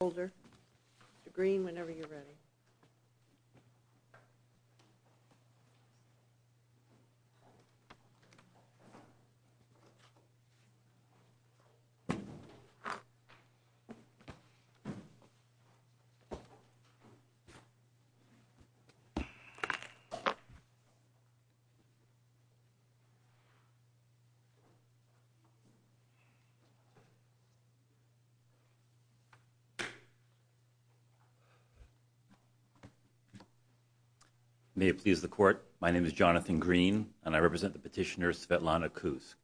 Mr. Green, whenever you're ready. May it please the Court, my name is Jonathan Green, and I represent the petitioner Svetlana Kuusk.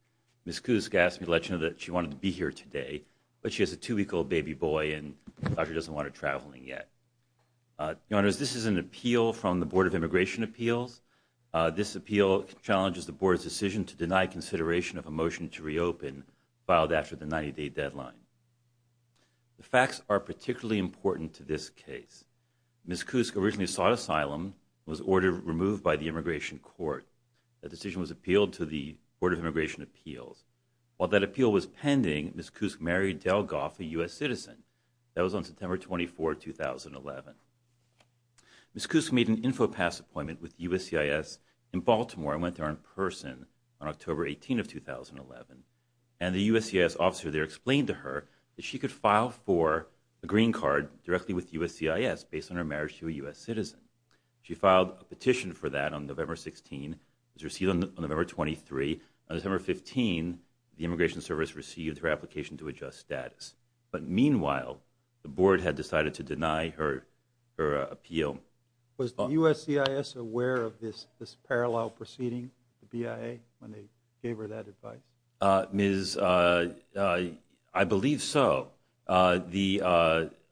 Ms. Kuusk asked me to let you know that she wanted to be here today, but she has a two-week-old baby boy, and the doctor doesn't want her traveling yet. Your Honors, this is an appeal from the Board of Immigration Appeals. This appeal challenges the Board's decision to deny consideration of a motion to reopen filed after the 90-day deadline. The facts are particularly important to this case. Ms. Kuusk originally sought asylum and was ordered removed by the Immigration Court. That decision was appealed to the Board of Immigration Appeals. While that appeal was pending, Ms. Kuusk married Del Goff, a U.S. citizen. That was on September 24, 2011. Ms. Kuusk made an Infopass appointment with USCIS in Baltimore and went there in person on October 18, 2011. And the USCIS officer there explained to her that she could file for a green card directly with USCIS based on her marriage to a U.S. citizen. She filed a petition for that on November 16, was received on November 23. On December 15, the Immigration Service received her application to adjust status. But meanwhile, the Board had decided to deny her appeal. Was the USCIS aware of this parallel proceeding with the BIA when they gave her that advice? Ms., I believe so. I believe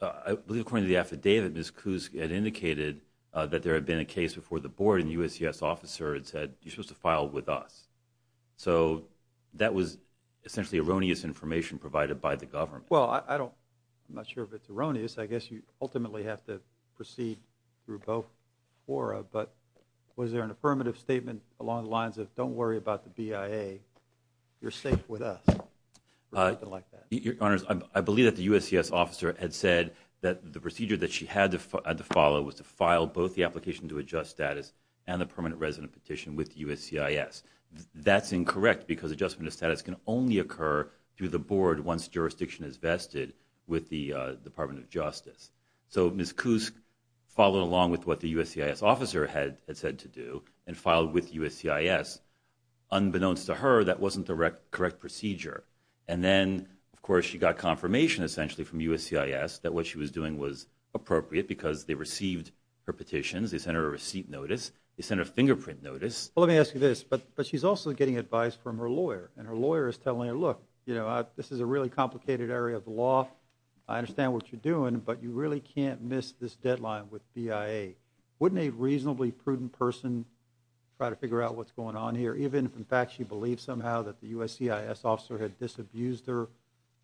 according to the affidavit, Ms. Kuusk had indicated that there had been a case before the Board and the USCIS officer had said, you're supposed to file with us. So that was essentially erroneous information provided by the government. Well, I don't, I'm not sure if it's erroneous. I guess you ultimately have to proceed through both fora. But was there an affirmative statement along the lines of, don't worry about the BIA, you're safe with us, or something like that? Your Honors, I believe that the USCIS officer had said that the procedure that she had to follow was to file both the application to adjust status and the permanent resident petition with USCIS. That's incorrect because adjustment of status can only occur through the Board once jurisdiction is vested with the Department of Justice. So Ms. Kuusk followed along with what the USCIS officer had said to do and filed with USCIS. Unbeknownst to her, that wasn't the correct procedure. And then, of course, she got confirmation essentially from USCIS that what she was doing was appropriate because they received her petitions, they sent her a receipt notice, they sent her a fingerprint notice. Well, let me ask you this, but she's also getting advice from her lawyer and her lawyer is telling her, look, you know, this is a really complicated area of the law. I understand what you're doing, but you really can't miss this deadline with BIA. Wouldn't a reasonably prudent person try to figure out what's going on here, even if, in fact, she believed somehow that the USCIS officer had disabused her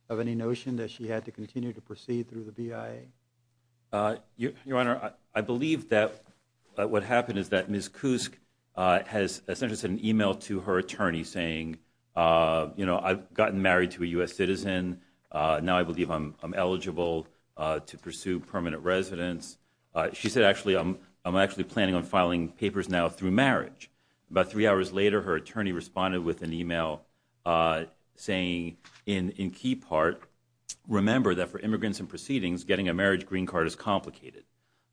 of any notion that she had to continue to proceed through the BIA? Your Honor, I believe that what happened is that Ms. Kuusk has essentially sent an email to her attorney saying, you know, I've gotten married to a U.S. citizen, now I believe I'm eligible to pursue permanent residence. She said, actually, I'm actually planning on filing papers now through marriage. About three hours later, her attorney responded with an email saying, in key part, remember that for immigrants and proceedings, getting a marriage green card is complicated.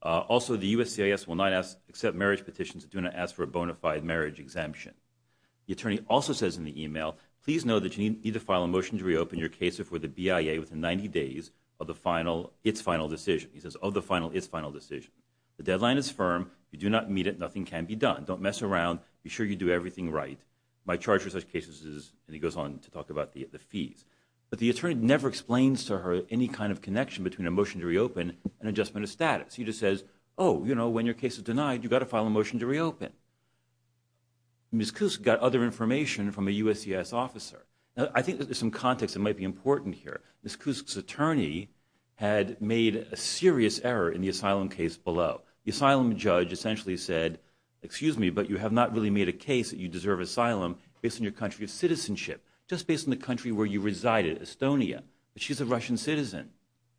Also, the USCIS will not accept marriage petitions and do not ask for a bona fide marriage exemption. The attorney also says in the email, please know that you need to file a motion to reopen your case before the BIA within 90 days of the final, its final decision. He says, of the final, its final decision. The deadline is firm. You do not meet it. Nothing can be done. Don't mess around. Be sure you do everything right. My charge for such cases is, and he goes on to talk about the fees. But the attorney never explains to her any kind of connection between a motion to reopen and adjustment of status. He just says, oh, you know, when your case is denied, you've got to file a motion to reopen. Ms. Kusk got other information from a USCIS officer. Now, I think there's some context that might be important here. Ms. Kusk's attorney had made a serious error in the asylum case below. The asylum judge essentially said, excuse me, but you have not really made a case that you deserve asylum based on your country of citizenship, just based on the country where you resided, Estonia. But she's a Russian citizen.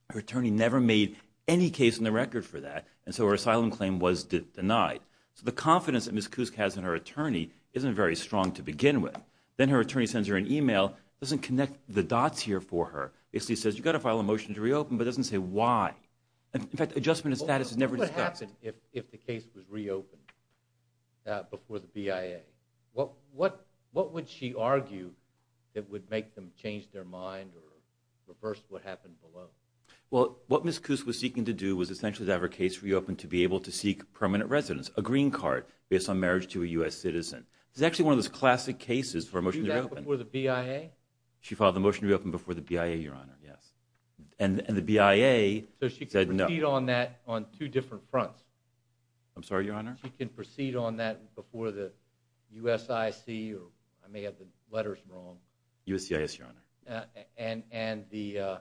Her attorney never made any case on the record for that. And so her asylum claim was denied. So the confidence that Ms. Kusk has in her attorney isn't very strong to begin with. Then her attorney sends her an email, doesn't connect the dots here for her. Basically says, you've got to file a motion to reopen, but doesn't say why. In fact, adjustment of status is never discussed. What would happen if the case was reopened before the BIA? What would she argue that would make them change their mind or reverse what happened below? Well, what Ms. Kusk was seeking to do was essentially to have her case reopened to be able to seek permanent residence, a green card based on marriage to a U.S. citizen. It's actually one of those classic cases for a motion to reopen. Do that before the BIA? She filed the motion to reopen before the BIA, Your Honor, yes. And the BIA said no. So she can proceed on that on two different fronts? I'm sorry, Your Honor? She can proceed on that before the USIC, or I may have the letters wrong. USCIS, Your Honor. And the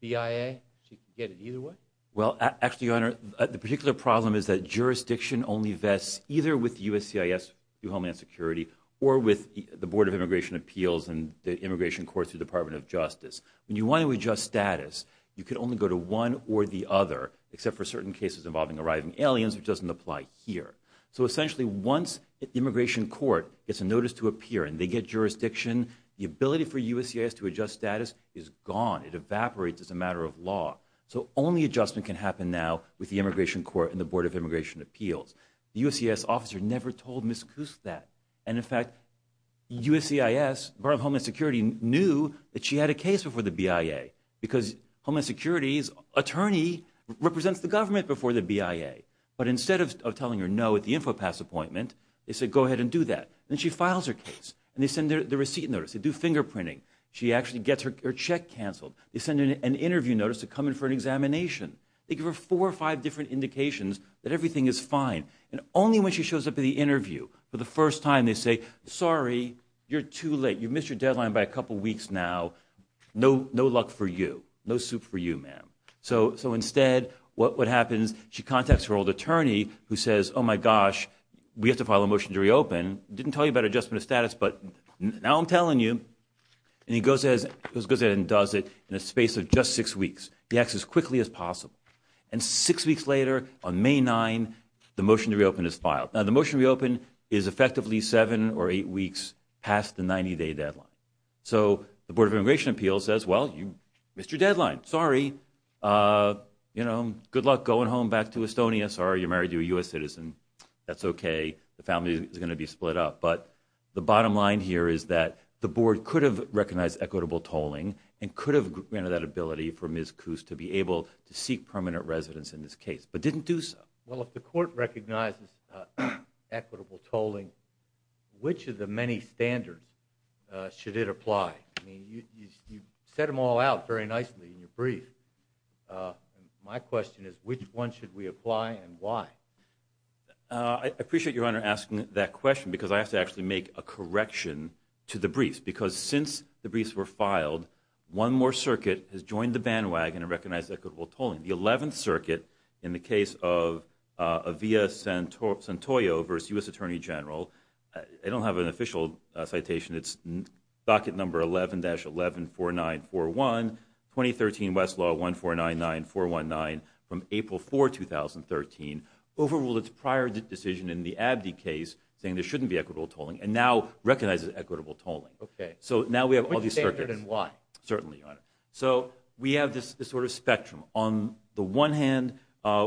BIA? She can get it either way? Well, actually, Your Honor, the particular problem is that jurisdiction only vests either with USCIS Homeland Security or with the Board of Immigration Appeals and the Immigration Court through the Department of Justice. When you want to adjust status, you can only go to one or the other, except for certain cases involving arriving aliens, which doesn't apply here. So essentially, once the Immigration Court gets a notice to appear and they get jurisdiction, the ability for USCIS to adjust status is gone. It evaporates as a matter of law. So only adjustment can happen now with the Immigration Court and the Board of Immigration Appeals. The USCIS officer never told Ms. Koos that. And, in fact, USCIS, Department of Homeland Security, knew that she had a case before the BIA. Because Homeland Security's attorney represents the government before the BIA. But instead of telling her no at the Infopass appointment, they said, go ahead and do that. And she files her case. And they send her the receipt notice. They do fingerprinting. She actually gets her check canceled. They send her an interview notice to come in for an examination. They give her four or five different indications that everything is fine. And only when she shows up at the interview for the first time, they say, sorry, you're too late. You missed your deadline by a couple weeks now. No luck for you. No soup for you, ma'am. So instead, what happens? She contacts her old attorney, who says, oh, my gosh, we have to file a motion to reopen. Didn't tell you about adjustment of status, but now I'm telling you. And he goes ahead and does it in a space of just six weeks. He acts as quickly as possible. And six weeks later, on May 9, the motion to reopen is filed. Now, the motion to reopen is effectively seven or eight weeks past the 90-day deadline. So the Board of Immigration Appeals says, well, you missed your deadline. Sorry. You know, good luck going home back to Estonia. Sorry you married a U.S. citizen. That's OK. The family is going to be split up. But the bottom line here is that the board could have recognized equitable tolling and could have granted that ability for Ms. Koos to be able to seek permanent residence in this case, but didn't do so. Well, if the court recognizes equitable tolling, which of the many standards should it apply? I mean, you set them all out very nicely in your brief. My question is, which one should we apply and why? I appreciate your Honor asking that question, because I have to actually make a correction to the briefs, because since the briefs were filed, one more circuit has joined the bandwagon and recognized equitable tolling. The 11th Circuit, in the case of Avila Santoyo v. U.S. Attorney General, I don't have an official citation. It's docket number 11-114941, 2013 Westlaw 1499419, from April 4, 2013, overruled its prior decision in the Abdi case, saying there shouldn't be equitable tolling, and now recognizes equitable tolling. OK. So now we have all these circuits. Which standard and why? Certainly, Your Honor. So we have this sort of spectrum. On the one hand,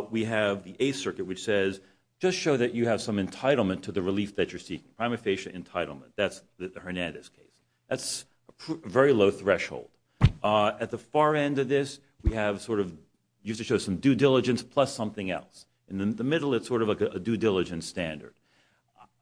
we have the Eighth Circuit, which says, just show that you have some entitlement to the relief that you're seeking, prima facie entitlement. That's the Hernandez case. That's a very low threshold. At the far end of this, we have sort of used to show some due diligence plus something else. In the middle, it's sort of a due diligence standard.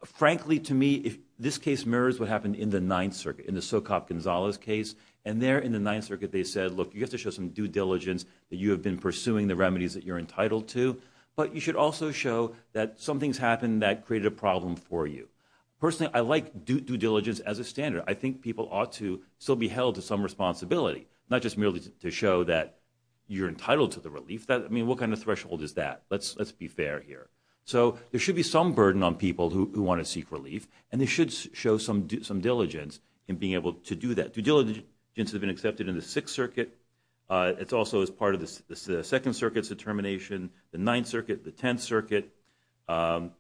Frankly, to me, this case mirrors what happened in the Ninth Circuit, in the Socop-Gonzalez case. And there, in the Ninth Circuit, they said, look, you have to show some due diligence that you have been pursuing the remedies that you're entitled to. But you should also show that something's happened that created a problem for you. Personally, I like due diligence as a standard. I think people ought to still be held to some responsibility, not just merely to show that you're entitled to the relief. I mean, what kind of threshold is that? Let's be fair here. So there should be some burden on people who want to seek relief. And they should show some diligence in being able to do that. Due diligence has been accepted in the Sixth Circuit. It's also as part of the Second Circuit's determination, the Ninth Circuit, the Tenth Circuit. The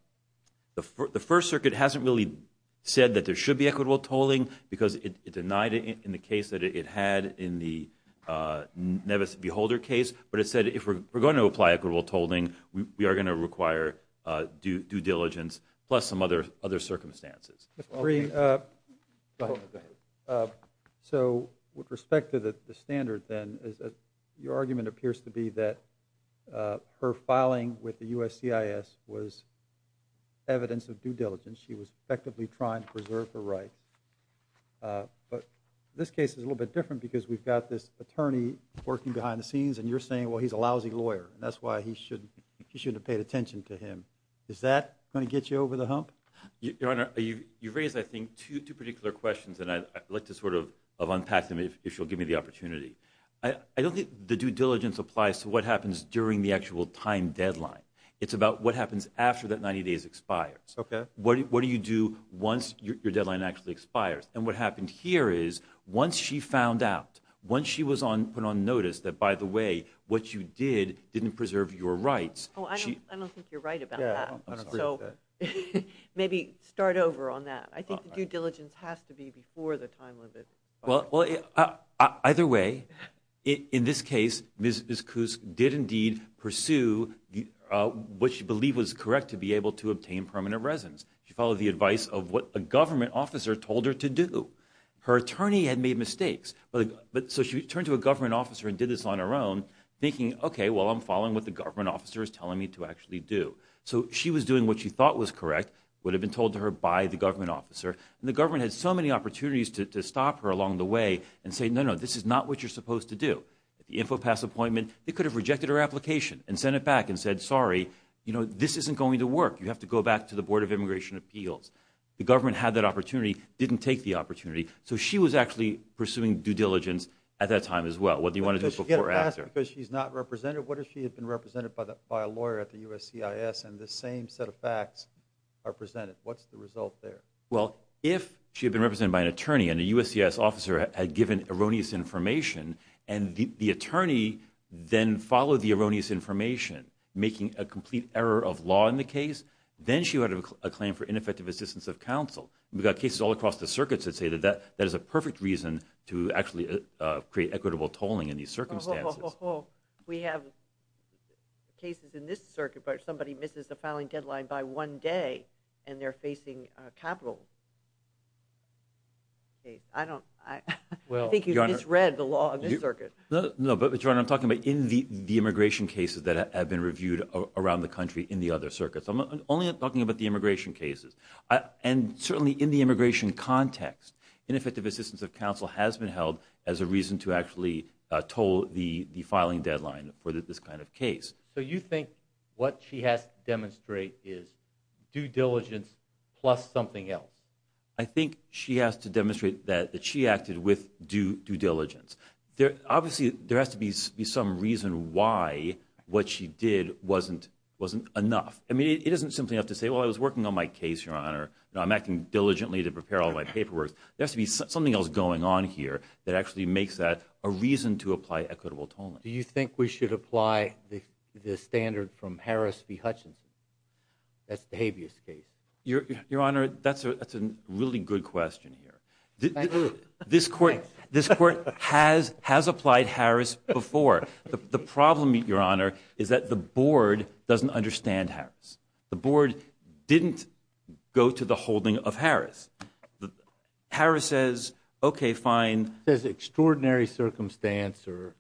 First Circuit hasn't really said that there should be equitable tolling because it denied it in the case that it had in the Nevis-Beholder case. But it said, if we're going to apply equitable tolling, we are going to require due diligence plus some other circumstances. So with respect to the standard then, your argument appears to be that her filing with the USCIS was evidence of due diligence. She was effectively trying to preserve her rights. But this case is a little bit different because we've got this attorney working behind the scenes, and you're saying, well, he's a lousy lawyer. That's why he shouldn't have paid attention to him. Is that going to get you over the hump? Your Honor, you've raised, I think, two particular questions, and I'd like to sort of unpack them if you'll give me the opportunity. I don't think the due diligence applies to what happens during the actual time deadline. It's about what happens after that 90 days expires. What do you do once your deadline actually expires? And what happened here is, once she found out, once she was put on notice that, by the way, what you did didn't preserve your rights. Oh, I don't think you're right about that. Yeah, I don't agree with that. So maybe start over on that. I think the due diligence has to be before the time limit. Well, either way, in this case, Ms. Koos did indeed pursue what she believed was correct to be able to obtain permanent residence. She followed the advice of what a government officer told her to do. Her attorney had made mistakes. So she turned to a government officer and did this on her own, thinking, OK, well, I'm So she was doing what she thought was correct, what had been told to her by the government officer. And the government had so many opportunities to stop her along the way and say, no, no, this is not what you're supposed to do. At the Infopass appointment, they could have rejected her application and sent it back and said, sorry, this isn't going to work. You have to go back to the Board of Immigration Appeals. The government had that opportunity, didn't take the opportunity. So she was actually pursuing due diligence at that time as well, whether you want to do it before or after. Because she's not represented. What if she had been represented by a lawyer at the USCIS and the same set of facts are presented? What's the result there? Well, if she had been represented by an attorney and a USCIS officer had given erroneous information and the attorney then followed the erroneous information, making a complete error of law in the case, then she would have a claim for ineffective assistance of counsel. We've got cases all across the circuits that say that that is a perfect reason to actually create equitable tolling in these circumstances. We have cases in this circuit where somebody misses the filing deadline by one day and they're facing a capital case. I think you misread the law in this circuit. No, but Your Honor, I'm talking about in the immigration cases that have been reviewed around the country in the other circuits. I'm only talking about the immigration cases. And certainly in the immigration context, ineffective assistance of counsel has been held as a reason to actually toll the filing deadline for this kind of case. So you think what she has to demonstrate is due diligence plus something else? I think she has to demonstrate that she acted with due diligence. Obviously, there has to be some reason why what she did wasn't enough. I mean, it isn't simply enough to say, well, I was working on my case, Your Honor. I'm acting diligently to prepare all my paperwork. There has to be something else going on here that actually makes that a reason to apply equitable tolling. Do you think we should apply the standard from Harris v. Hutchinson? That's the habeas case. Your Honor, that's a really good question here. This Court has applied Harris before. The problem, Your Honor, is that the Board doesn't understand Harris. The Board didn't go to the holding of Harris. Harris says, okay, fine. It says extraordinary circumstance or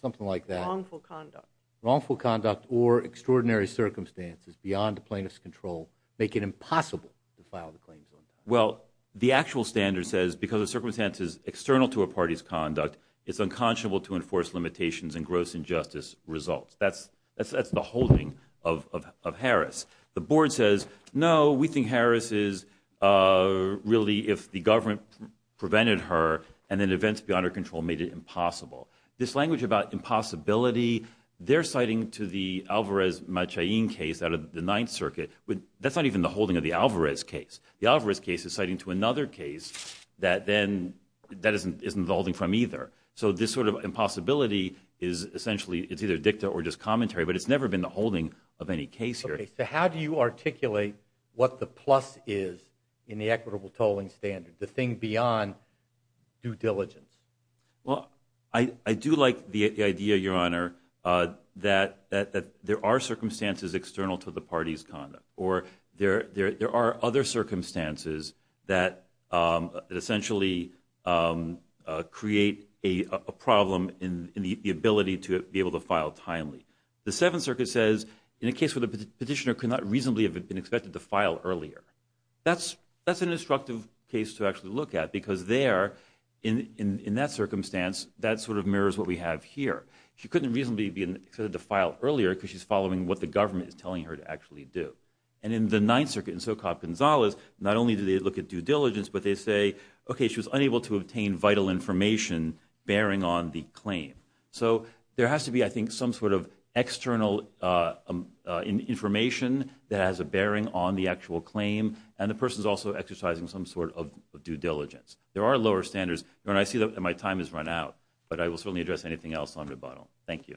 something like that. Wrongful conduct. Wrongful conduct or extraordinary circumstances beyond the plaintiff's control make it impossible to file the claims on time. Well, the actual standard says because the circumstance is external to a party's conduct, it's unconscionable to enforce limitations and gross injustice results. That's the holding of Harris. The Board says, no, we think Harris is really if the government prevented her and then events beyond her control made it impossible. This language about impossibility, they're citing to the Alvarez-Machain case out of the Ninth Circuit. That's not even the holding of the Alvarez case. The Alvarez case is citing to another case that isn't the holding from either. So this sort of impossibility is essentially, it's either dicta or just commentary, but it's never been the holding of any case here. So how do you articulate what the plus is in the equitable tolling standard, the thing beyond due diligence? Well, I do like the idea, Your Honor, that there are circumstances external to the party's conduct or there are other circumstances that essentially create a problem in the ability to be able to file timely. The Seventh Circuit says, in a case where the petitioner could not reasonably have been expected to file earlier. That's an instructive case to actually look at because there, in that circumstance, that sort of mirrors what we have here. She couldn't reasonably be expected to file earlier because she's following what the government is telling her to actually do. And in the Ninth Circuit in Socop Gonzalez, not only do they look at due diligence, but they say, okay, she was unable to obtain vital information bearing on the claim. So there has to be, I think, some sort of external information that has a bearing on the actual claim and the person is also exercising some sort of due diligence. There are lower standards. Your Honor, I see that my time has run out, but I will certainly address anything else on rebuttal. Thank you.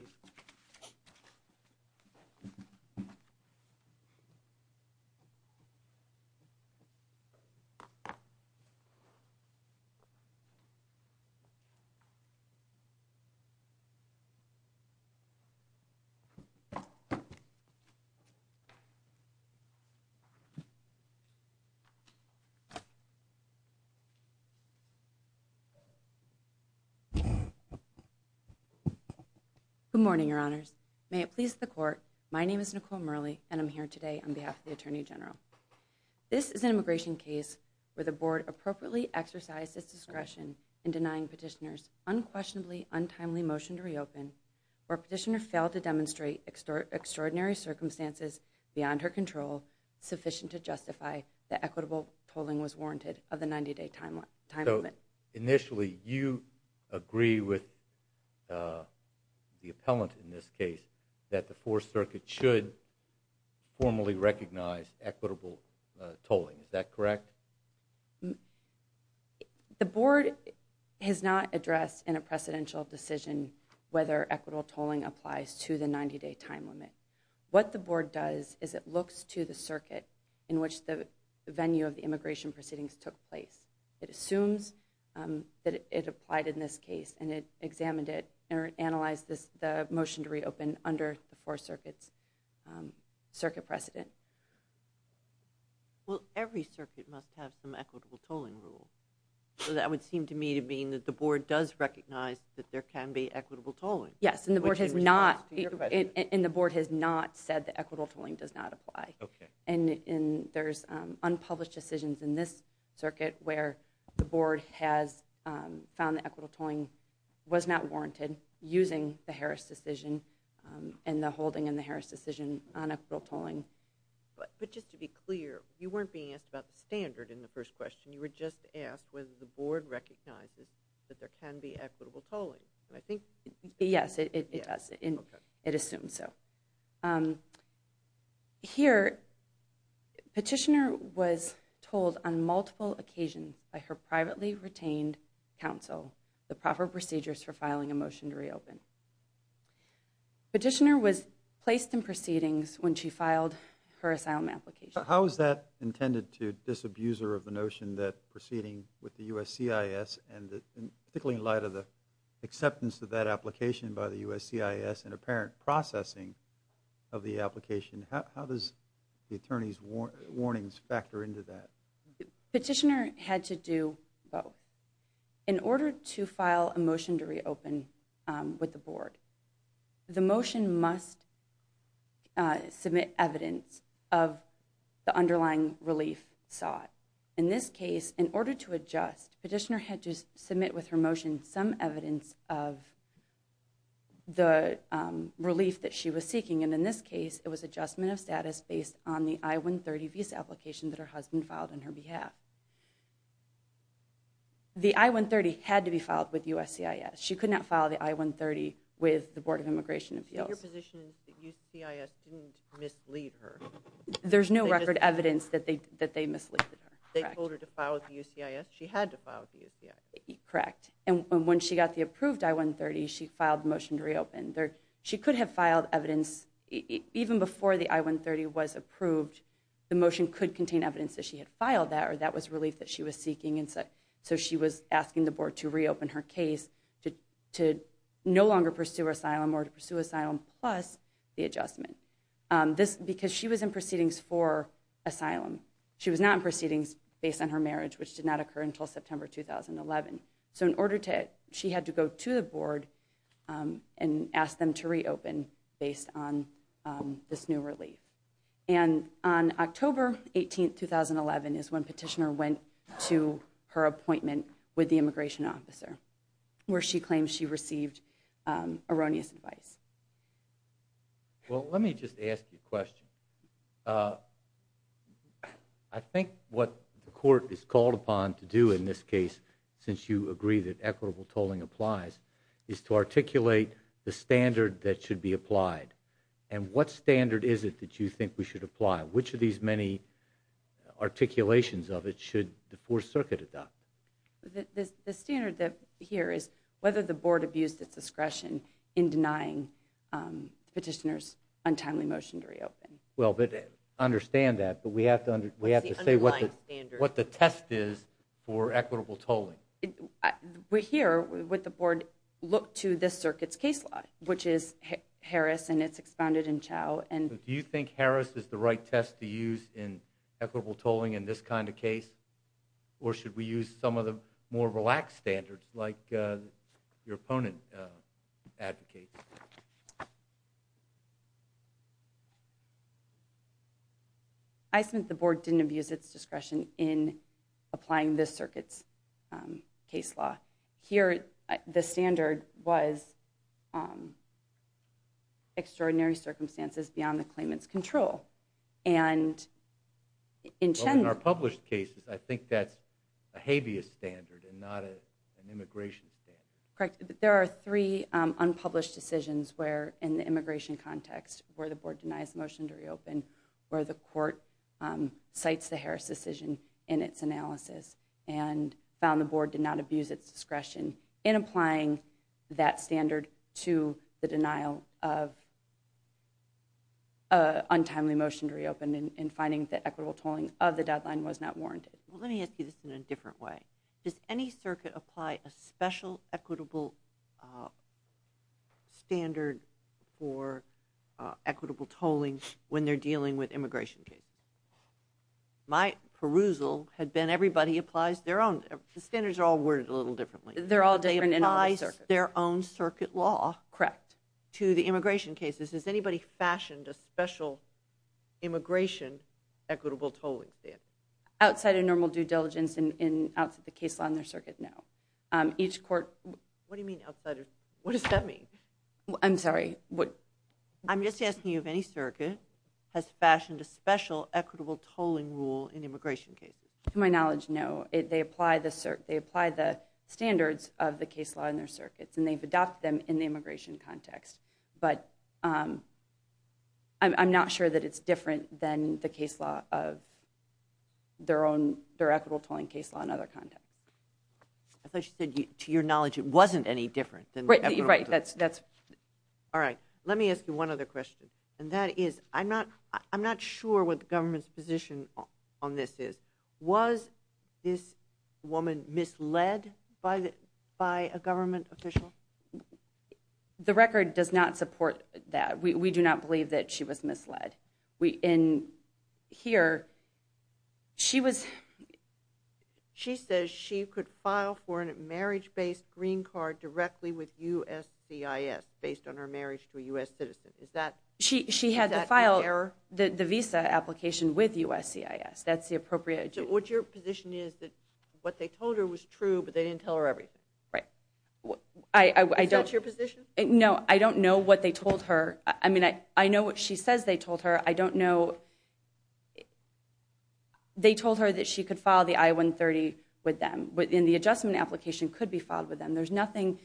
Good morning, Your Honors. May it please the Court. My name is Nicole Murley and I'm here today on behalf of the Attorney General. This is an immigration case where the Board appropriately exercised its discretion in denying Petitioner's unquestionably untimely motion to reopen where Petitioner failed to demonstrate extraordinary circumstances beyond her control sufficient to justify that equitable tolling was warranted of the 90-day time limit. So, initially, you agree with the appellant in this case that the Fourth Circuit should formally recognize equitable tolling. Is that correct? The Board has not addressed in a precedential decision whether equitable tolling applies to the 90-day time limit. What the Board does is it looks to the circuit in which the venue of the immigration proceedings took place. It assumes that it applied in this case and it examined it and analyzed the motion to reopen under the Fourth Circuit's circuit precedent. Well, every circuit must have some equitable tolling rule. So that would seem to me to mean that the Board does recognize that there can be equitable tolling. Yes, and the Board has not said that equitable tolling does not apply. And there's unpublished decisions in this circuit where the Board has found that equitable tolling was not warranted using the Harris decision and the holding in the Harris decision on equitable tolling. But just to be clear, you weren't being asked about the standard in the first question. You were just asked whether the Board recognizes that there can be equitable tolling. Yes, it does. It assumes so. Here, Petitioner was told on multiple occasions by her privately retained counsel the proper procedures for filing a motion to reopen. Petitioner was placed in proceedings when she filed her asylum application. How is that intended to disabuse her of the notion that proceeding with the USCIS and particularly in light of the acceptance of that application by the USCIS and apparent processing of the application, how does the attorney's warnings factor into that? Petitioner had to do both. In order to file a motion to reopen with the Board, the motion must submit evidence of the underlying relief sought. In this case, in order to adjust, Petitioner had to submit with her motion some evidence of the relief that she was seeking. And in this case, it was adjustment of status based on the I-130 visa application that her husband filed on her behalf. The I-130 had to be filed with USCIS. She could not file the I-130 with the Board of Immigration Appeals. Your position is that USCIS didn't mislead her? There's no record evidence that they mislead her. They told her to file with the USCIS. She had to file with the USCIS. Correct. And when she got the approved I-130, she filed the motion to reopen. She could have filed evidence, even before the I-130 was approved, the motion could contain evidence that she had filed that or that was relief that she was seeking. So she was asking the Board to reopen her case to no longer pursue asylum or to pursue asylum plus the adjustment. Because she was in proceedings for asylum. She was not in proceedings based on her marriage, which did not occur until September 2011. So in order to, she had to go to the Board and ask them to reopen based on this new relief. And on October 18, 2011 is when Petitioner went to her appointment with the immigration officer, where she claims she received erroneous advice. Well, let me just ask you a question. I think what the Court is called upon to do in this case, since you agree that equitable tolling applies, is to articulate the standard that should be applied. And what standard is it that you think we should apply? Which of these many articulations of it should the Fourth Circuit adopt? The standard here is whether the Board abused its discretion in denying Petitioner's untimely motion to reopen. Well, I understand that, but we have to say what the test is for equitable tolling. Here, would the Board look to this Circuit's case law, which is Harris and it's expounded in Chau? Do you think Harris is the right test to use in equitable tolling in this kind of case? Or should we use some of the more relaxed standards like your opponent advocates? I think the Board didn't abuse its discretion in applying this Circuit's case law. Here, the standard was extraordinary circumstances beyond the claimant's control. In our published cases, I think that's a habeas standard and not an immigration standard. There are three unpublished decisions where, in the immigration context, where the Board denies motion to reopen, where the Court cites the Harris decision in its analysis and found the Board did not abuse its discretion in applying that standard to the denial of a untimely motion to reopen and finding that equitable tolling of the deadline was not warranted. Let me ask you this in a different way. Does any Circuit apply a special equitable standard for equitable tolling when they're dealing with immigration cases? My perusal had been everybody applies their own... The standards are all worded a little differently. They're all different in and out of the Circuit. They apply their own Circuit law to the immigration cases. Has anybody fashioned a special immigration equitable tolling standard? Outside of normal due diligence and outside the case law in their Circuit, no. Each Court... What do you mean, outside? What does that mean? I'm sorry. I'm just asking you if any Circuit has fashioned a special equitable tolling rule in immigration cases. To my knowledge, no. They apply the standards of the case law in their Circuits and they've adopted them in the immigration context. But I'm not sure that it's different than the case law of their own... their equitable tolling case law in other contexts. I thought you said, to your knowledge, it wasn't any different than... Right. Let me ask you one other question. I'm not sure what the government's position on this is. Was this woman misled by a government official? The record does not support that. We do not believe that she was misled. In here, she was... She says she could file for a marriage-based green card directly with USCIS based on her marriage to a U.S. citizen. Is that an error? She had to file the visa application with USCIS. What's your position is that what they told her was true but they didn't tell her everything? Is that your position? No, I don't know what they told her. I mean, I know what she says they told her. I don't know... They told her that she could file the I-130 with them and the adjustment application could be filed with them. There's nothing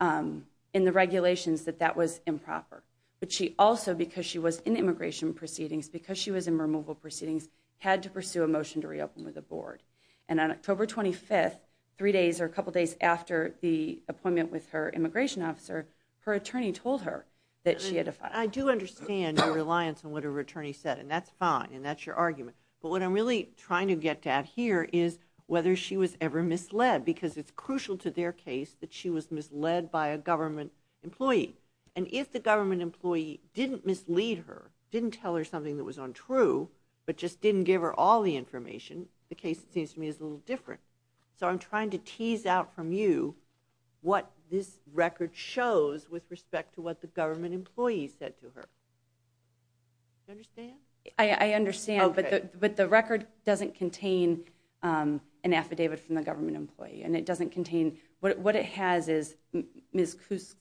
in the regulations that that was improper. But she also, because she was in immigration proceedings, because she was in removal proceedings, had to pursue a motion to reopen with the board. And on October 25th, three days or a couple days after the appointment with her immigration officer, her attorney told her that she had to file. I do understand your reliance on what her attorney said, and that's fine, and that's your argument. But what I'm really trying to get at here is whether she was ever misled, because it's crucial to their case that she was misled by a government employee. And if the government employee didn't mislead her, didn't tell her something that was untrue, but just didn't give her all the information, the case, it seems to me, is a little different. So I'm trying to tease out from you what this record shows with respect to what the government employee said to her. Do you understand? I understand, but the record doesn't contain an affidavit from the government employee. And it doesn't contain... What it has is Ms. Cusk's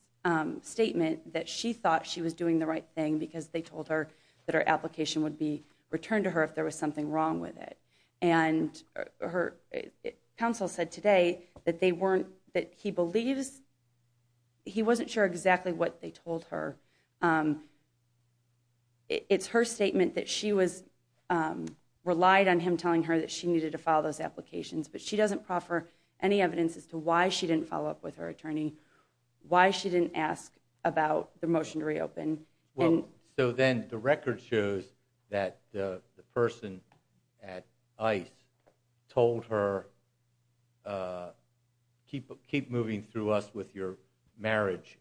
statement that she thought she was doing the right thing because they told her that her application would be returned to her if there was something wrong with it. And counsel said today that they weren't... that he believes... he wasn't sure exactly what they told her. It's her statement that she was... relied on him telling her that she needed to file those applications, but she doesn't proffer any evidence as to why she didn't follow up with her attorney, why she didn't ask about the motion to reopen. Well, so then the record shows that the person at ICE told her, keep moving through us with your marriage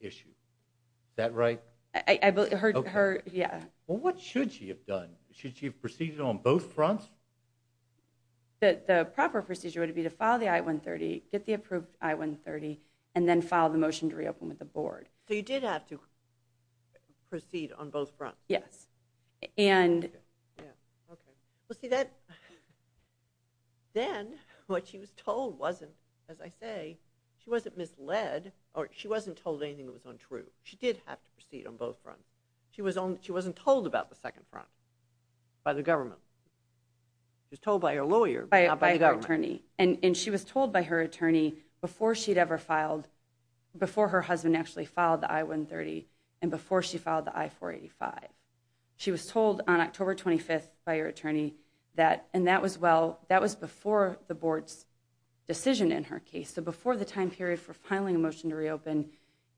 issue. Is that right? Well, what should she have done? Should she have proceeded on both fronts? I think that the proper procedure would be to file the I-130, get the approved I-130, and then file the motion to reopen with the board. So you did have to proceed on both fronts? Yes. Well, see that... Then what she was told wasn't, as I say, she wasn't misled, or she wasn't told anything that was untrue. She did have to proceed on both fronts. She wasn't told about the second front by the government. She was told by her lawyer, not by the government. And she was told by her attorney before she'd ever filed, before her husband actually filed the I-130, and before she filed the I-485. She was told on October 25th by her attorney that, and that was before the board's decision in her case, so before the time period for filing a motion to reopen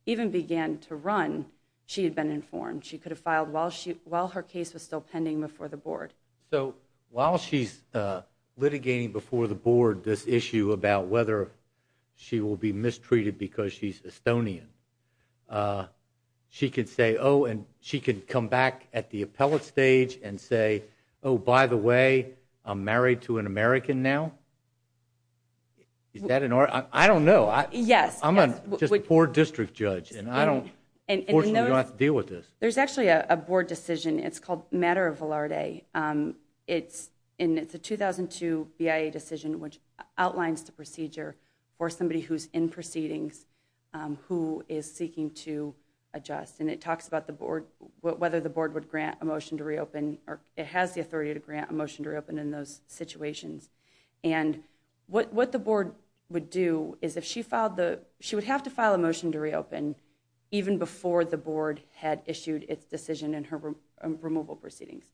even began to run, she had been informed. She could have filed while her case was still pending before the board. So while she's litigating before the board this issue about whether she will be mistreated because she's Estonian, she could say, oh, and she could come back at the appellate stage and say, oh, by the way, I'm married to an American now? Is that an... I don't know. I'm just a poor district judge. Unfortunately, we don't have to deal with this. There's actually a board decision. It's called Matter of Valarde. It's a 2002 BIA decision which outlines the procedure for somebody who's in proceedings who is seeking to adjust. And it talks about whether the board would grant a motion to reopen, or it has the authority to grant a motion to reopen in those situations. And what the board would do is if she filed the... she would have to file a motion to reopen even before the board had issued its decision in her removal proceedings.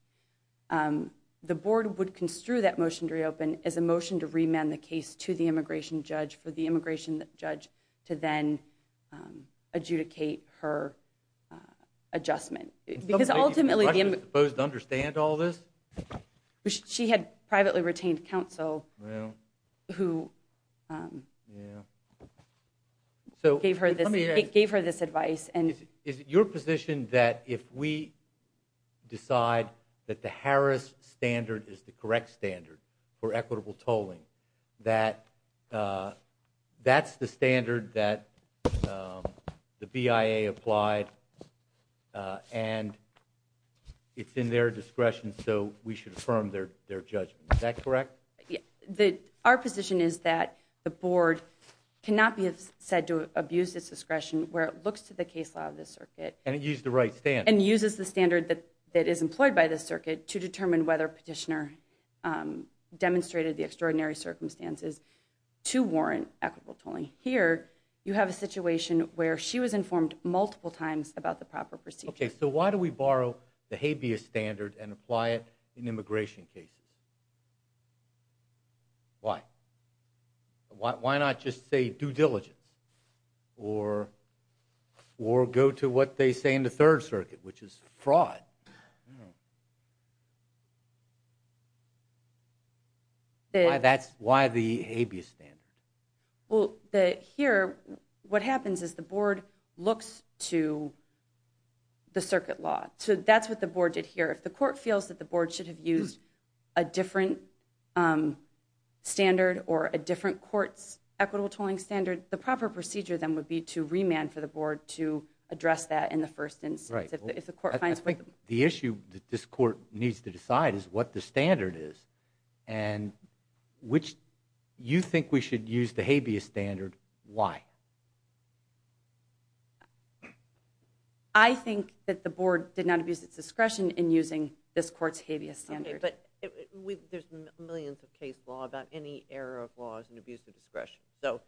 The board would construe that motion to reopen as a motion to remand the case to the immigration judge for the immigration judge to then adjudicate her adjustment. Because ultimately... Is she supposed to understand all this? She had privately retained counsel who... Yeah. ...gave her this advice. Is it your position that if we decide that the Harris standard is the correct standard for equitable tolling, that that's the standard that the BIA applied and it's in their discretion so we should affirm their judgment? Is that correct? Our position is that the board cannot be said to abuse its discretion where it looks to the case law of this circuit... And it uses the right standard. ...and uses the standard that is employed by this circuit to determine whether a petitioner demonstrated the extraordinary circumstances to warrant equitable tolling. Here, you have a situation where she was informed multiple times about the proper procedure. Okay, so why do we borrow the habeas standard and apply it in immigration cases? Why? Why not just say due diligence? Or go to what they say in the Third Circuit, which is fraud? Why the habeas standard? Here, what happens is the board looks to the circuit law. That's what the board did here. If the court feels that the board should have used a different standard or a different court's equitable tolling standard, the proper procedure then would be to remand for the board to address that in the first instance. I think the issue that this court needs to decide is what the standard is. And you think we should use the habeas standard. Why? I think that the board did not abuse its discretion in using this court's habeas standard. Okay, but there's millions of case law about any error of laws and abuse of discretion. So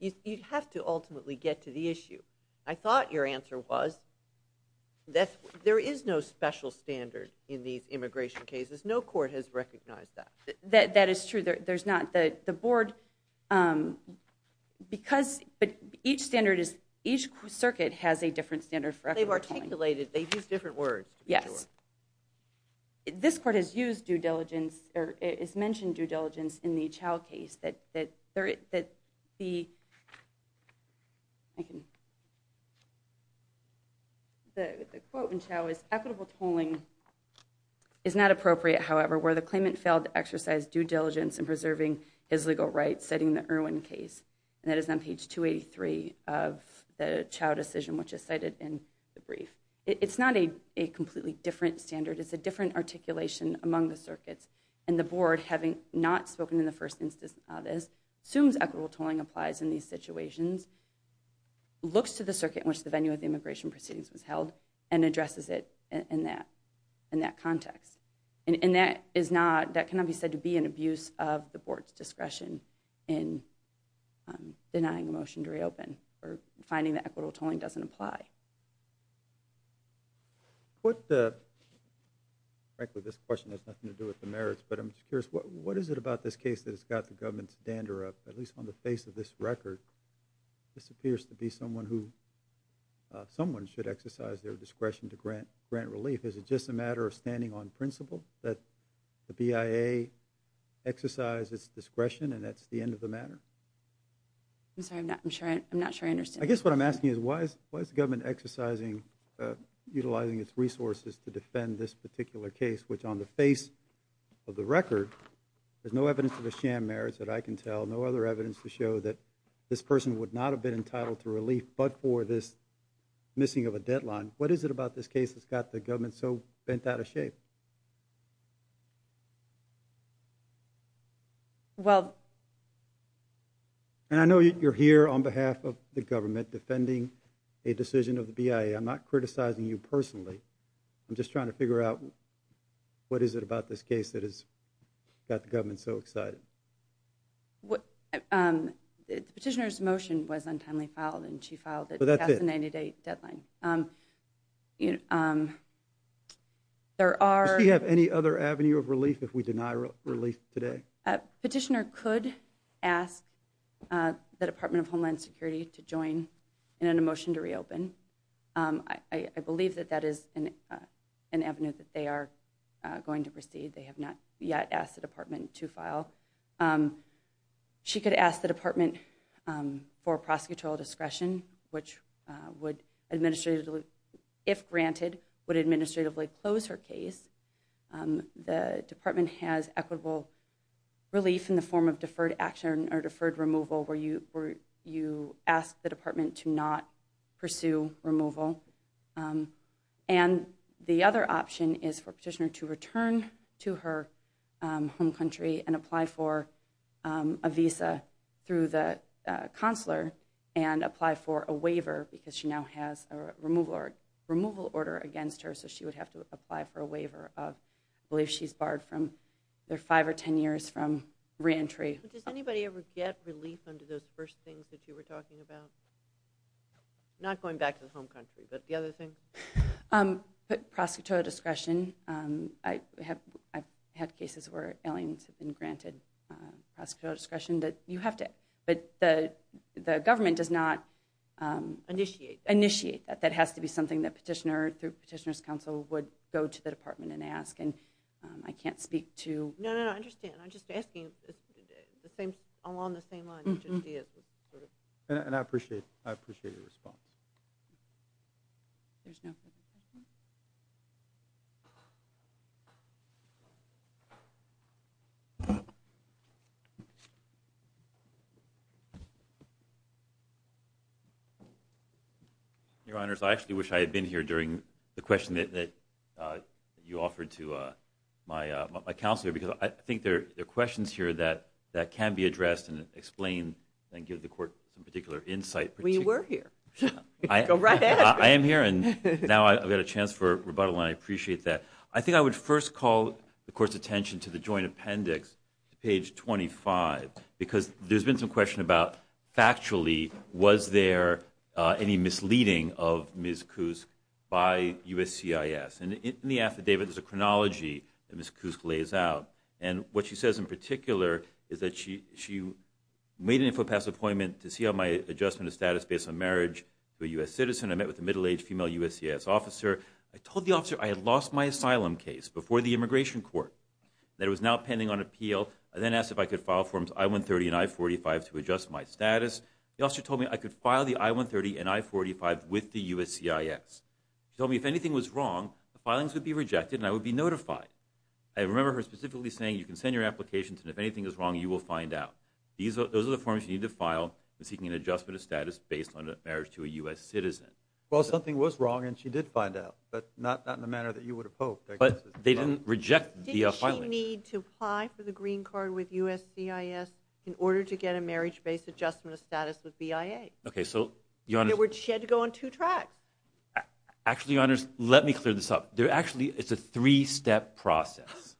you'd have to ultimately get to the issue. I thought your answer was there is no special standard in these immigration cases. No court has recognized that. That is true. But each circuit has a different standard for equitable tolling. They've articulated, they've used different words. Yes. This court has mentioned due diligence in the Chau case. The quote in Chau is, equitable tolling is not appropriate, however, where the claimant failed to exercise due diligence in preserving his legal rights, citing the Irwin case. That is on page 283 of the Chau decision, which is cited in the brief. It's not a completely different standard. It's a different articulation among the circuits. And the board, having not spoken in the first instance assumes equitable tolling applies in these situations, looks to the circuit in which the venue of the immigration proceedings was held, and addresses it in that context. And that cannot be said to be an abuse of the board's discretion in denying a motion to reopen or finding that equitable tolling doesn't apply. What the... Frankly, this question has nothing to do with the merits, but I'm just curious, what is it about this case that has got the government's dander up, at least on the face of this record? This appears to be someone who... Someone should exercise their discretion to grant relief. Is it just a matter of standing on principle that the BIA exercise its discretion, and that's the end of the matter? I'm sorry, I'm not sure I understand. I guess what I'm asking is, why is the government exercising, utilizing its resources to defend this particular case, which on the face of the record, there's no evidence of a sham merits that I can tell, no other evidence to show that this person would not have been entitled to relief but for this missing of a deadline. What is it about this case that's got the government so bent out of shape? Well... And I know you're here on behalf of the government defending a decision of the BIA. I'm not criticizing you personally. I'm just trying to figure out, what is it about this case that has got the government so excited? The petitioner's motion was untimely filed, and she filed it past the 90-day deadline. There are... Does she have any other avenue of relief if we deny relief today? Petitioner could ask the Department of Homeland Security to join in a motion to reopen. I believe that that is an avenue that they are going to proceed. They have not yet asked the department to file. She could ask the department for prosecutorial discretion, which would, if granted, would administratively close her case. The department has equitable relief in the form of deferred action or deferred removal where you ask the department to not pursue removal. And the other option is for petitioner to return to her home country and apply for a visa through the consular and apply for a waiver because she now has a removal order against her. So she would have to apply for a waiver of, I believe she's barred for 5 or 10 years from reentry. Does anybody ever get relief under those first things that you were talking about? Not going back to the home country, but the other things? Prosecutorial discretion. I've had cases where aliens have been granted prosecutorial discretion. But the government does not initiate that. That has to be something that petitioner's counsel would go to the department and ask. I can't speak to... No, I understand. I'm just asking along the same lines. And I appreciate the response. Your Honors, I actually wish I had been here during the question that you offered to my counsel here because I think there are questions here that can be addressed and explained and give the Court some particular insight. I am here and now I've got a chance for rebuttal and I appreciate that. I think I would first call the Court's attention to the Joint Appendix, page 25 because there's been some question about, factually, was there any misleading of Ms. Kusk by USCIS? In the affidavit, there's a chronology that Ms. Kusk lays out and what she says in particular is that she made an infopass appointment to see how my adjustment of status based on marriage to a U.S. citizen. I met with a middle-aged female USCIS officer. I told the officer I had lost my asylum case before the immigration court that it was now pending on appeal. I then asked if I could file forms I-130 and I-45 to adjust my status. The officer told me I could file the I-130 and I-45 with the USCIS. She told me if anything was wrong, the filings would be rejected and I would be notified. I remember her specifically saying you can send your applications and if anything is wrong, you will find out. Those are the forms you need to file in seeking an adjustment of status based on marriage to a U.S. citizen. Well, something was wrong and she did find out, but not in the manner that you would have hoped. But they didn't reject the filings. Didn't she need to apply for the green card with USCIS in order to get a marriage-based adjustment of status with BIA? She had to go on two tracks. Actually, Your Honors, let me clear this up. It's a three-step process.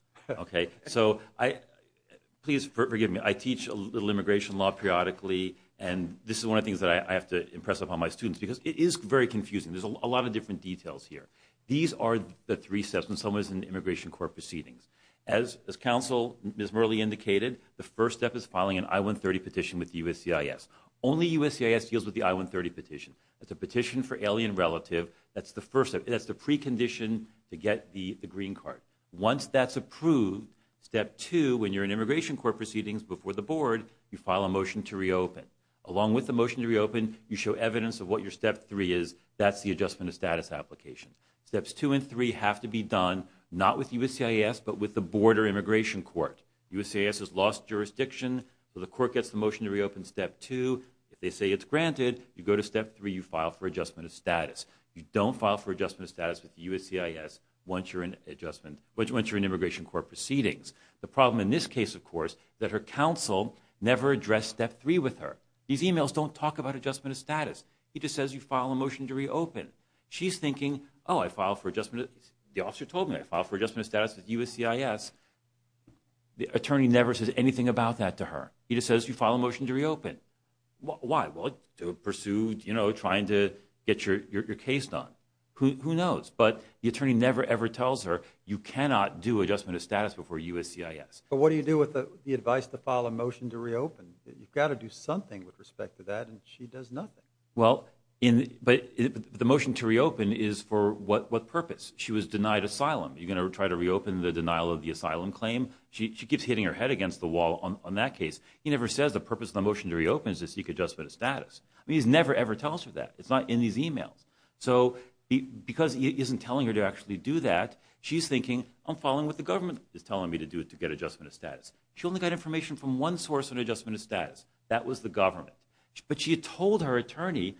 Please forgive me. I teach a little immigration law periodically and this is one of the things I have to impress upon my students because it is very confusing. There's a lot of different details here. These are the three steps when someone is in immigration court proceedings. As counsel Ms. Murley indicated, the first step is filing an I-130 petition with USCIS. Only USCIS deals with the I-130 petition. That's a petition for alien relative. That's the precondition to get the green card. Once that's approved, step two, when you're in immigration court proceedings before the board, you file a motion to reopen. Along with the motion to reopen, you show evidence of what your step three is. That's the adjustment of status application. Steps two and three have to be done, not with USCIS, but with the board or immigration court. USCIS has lost jurisdiction, so the court gets the motion to reopen step two. If they say it's granted, you go to step three, you file for adjustment of status. You don't file for adjustment of status with USCIS once you're in immigration court proceedings. The problem in this case, of course, is that her counsel never addressed step three with her. These emails don't talk about adjustment of status. He just says you file a motion to reopen. She's thinking, oh, I file for adjustment of... The officer told me I file for adjustment of status with USCIS. The attorney never says anything about that to her. He just says you file a motion to reopen. Why? Well, to pursue, you know, trying to get your case done. Who knows? But the attorney never, ever tells her you cannot do adjustment of status before USCIS. But what do you do with the advice to file a motion to reopen? You've got to do something with respect to that, and she does nothing. Well, but the motion to reopen is for what purpose? She was denied asylum. You're going to try to reopen the denial of the asylum claim? She keeps hitting her head against the wall on that case. He never says the purpose of the motion to reopen is to seek adjustment of status. He never, ever tells her that. It's not in these emails. So because he isn't telling her to actually do that, she's thinking, I'm following what the government is telling me to do to get adjustment of status. She only got information from one source on adjustment of status. That was the government. But she had told her attorney,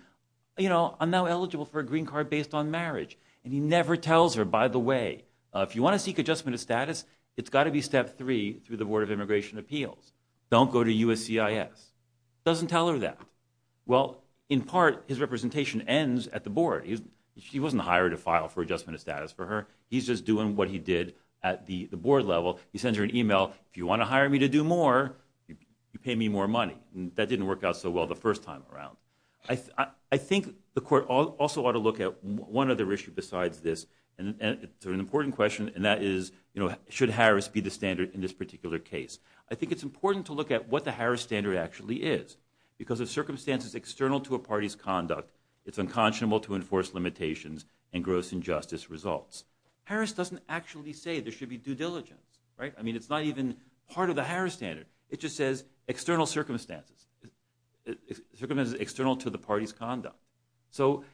you know, I'm now eligible for a green card based on marriage. And he never tells her, by the way, if you want to seek adjustment of status, it's got to be step three through the Board of Immigration Appeals. Don't go to USCIS. Doesn't tell her that. Well, in part, his representation ends at the board. He wasn't hiring to file for adjustment of status for her. He's just doing what he did at the board level. He sends her an email, if you want to hire me to do more, you pay me more money. That didn't work out so well the first time around. I think the court also ought to look at one other issue besides this. It's an important question, and that is should Harris be the standard in this particular case? I think it's important to look at what the Harris standard actually is. Because of circumstances external to a party's conduct, it's unconscionable to enforce limitations and gross injustice results. Harris doesn't actually say there should be due diligence. I mean, it's not even part of the Harris standard. It just says external circumstances. Circumstances external to the party's conduct. So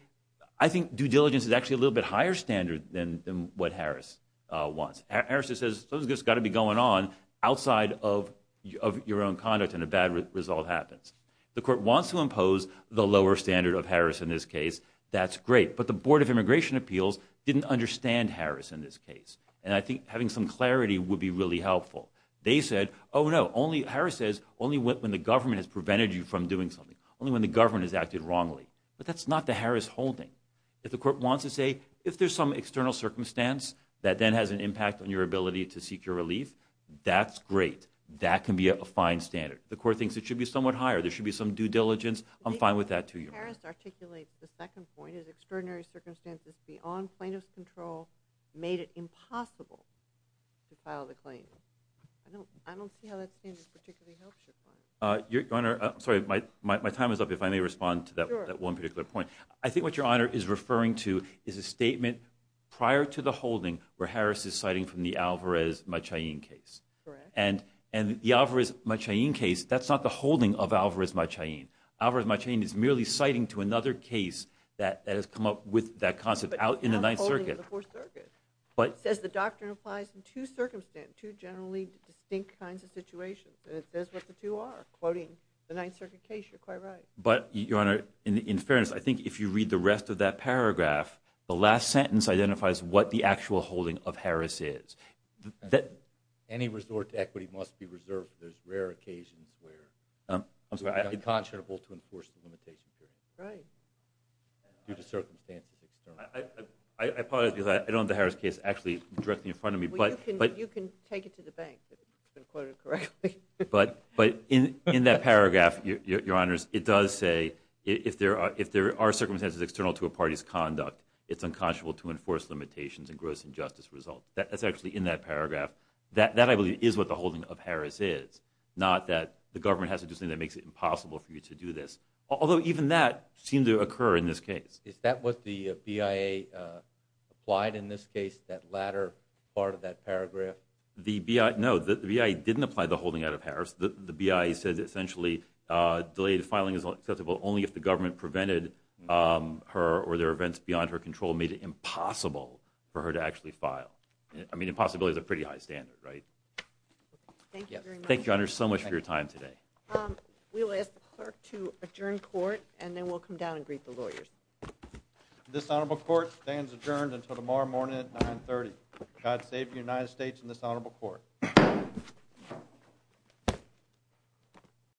I think due diligence is actually a little bit higher standard than what Harris wants. Harris just says, something's got to be going on outside of your own conduct and a bad result happens. The court wants to impose the lower standard of Harris in this case. That's great. But the Board of Immigration Appeals didn't understand Harris in this case. And I think having some clarity would be really helpful. Harris says only when the government has prevented you from doing something. Only when the government has acted wrongly. But that's not the Harris holding. If the court wants to say if there's some external circumstance that then has an impact on your ability to seek your relief, that's great. That can be a fine standard. The court thinks it should be somewhat higher. There should be some due diligence. I'm fine with that too, Your Honor. Harris articulates the second point as extraordinary circumstances beyond plaintiff's control made it impossible to file the claim. I don't see how that standard particularly helps your client. My time is up if I may respond to that one particular point. I think what Your Honor is referring to is a statement prior to the holding where Harris is citing from the Alvarez-Machain case. And the Alvarez-Machain case, that's not the holding of Alvarez-Machain. Alvarez-Machain is merely citing to another case that has come up with that concept out in the Ninth Circuit. It says the doctrine applies in two circumstances, two generally distinct kinds of situations. That's what the two are. Quoting the Ninth Circuit case, you're quite right. In fairness, I think if you read the rest of that paragraph, the last sentence identifies what the actual holding of Harris is. Any resort to equity must be reserved for those rare occasions where it's unconscionable to enforce the limitation period. Right. I apologize because I don't have the Harris case actually directly in front of me. You can take it to the bank if it's been quoted correctly. In that paragraph, Your Honors, it does say if there are circumstances external to a party's conduct, it's unconscionable to enforce limitations and gross injustice results. That's actually in that paragraph. That, I believe, is what the holding of Harris is. Not that the government has to do something that makes it impossible for you to do this. Although even that seemed to occur in this case. Is that what the BIA applied in this case? That latter part of that paragraph? No, the BIA didn't apply the holding out of Harris. The BIA said essentially delayed filing is acceptable only if the government prevented her or their events beyond her control made it impossible for her to actually file. I mean, impossibility is a pretty high standard, right? Thank you, Your Honors, so much for your time today. We'll ask the clerk to adjourn court and then we'll come down and greet the lawyers. This honorable court stands adjourned until tomorrow morning at 9.30. God save the United States and this honorable court.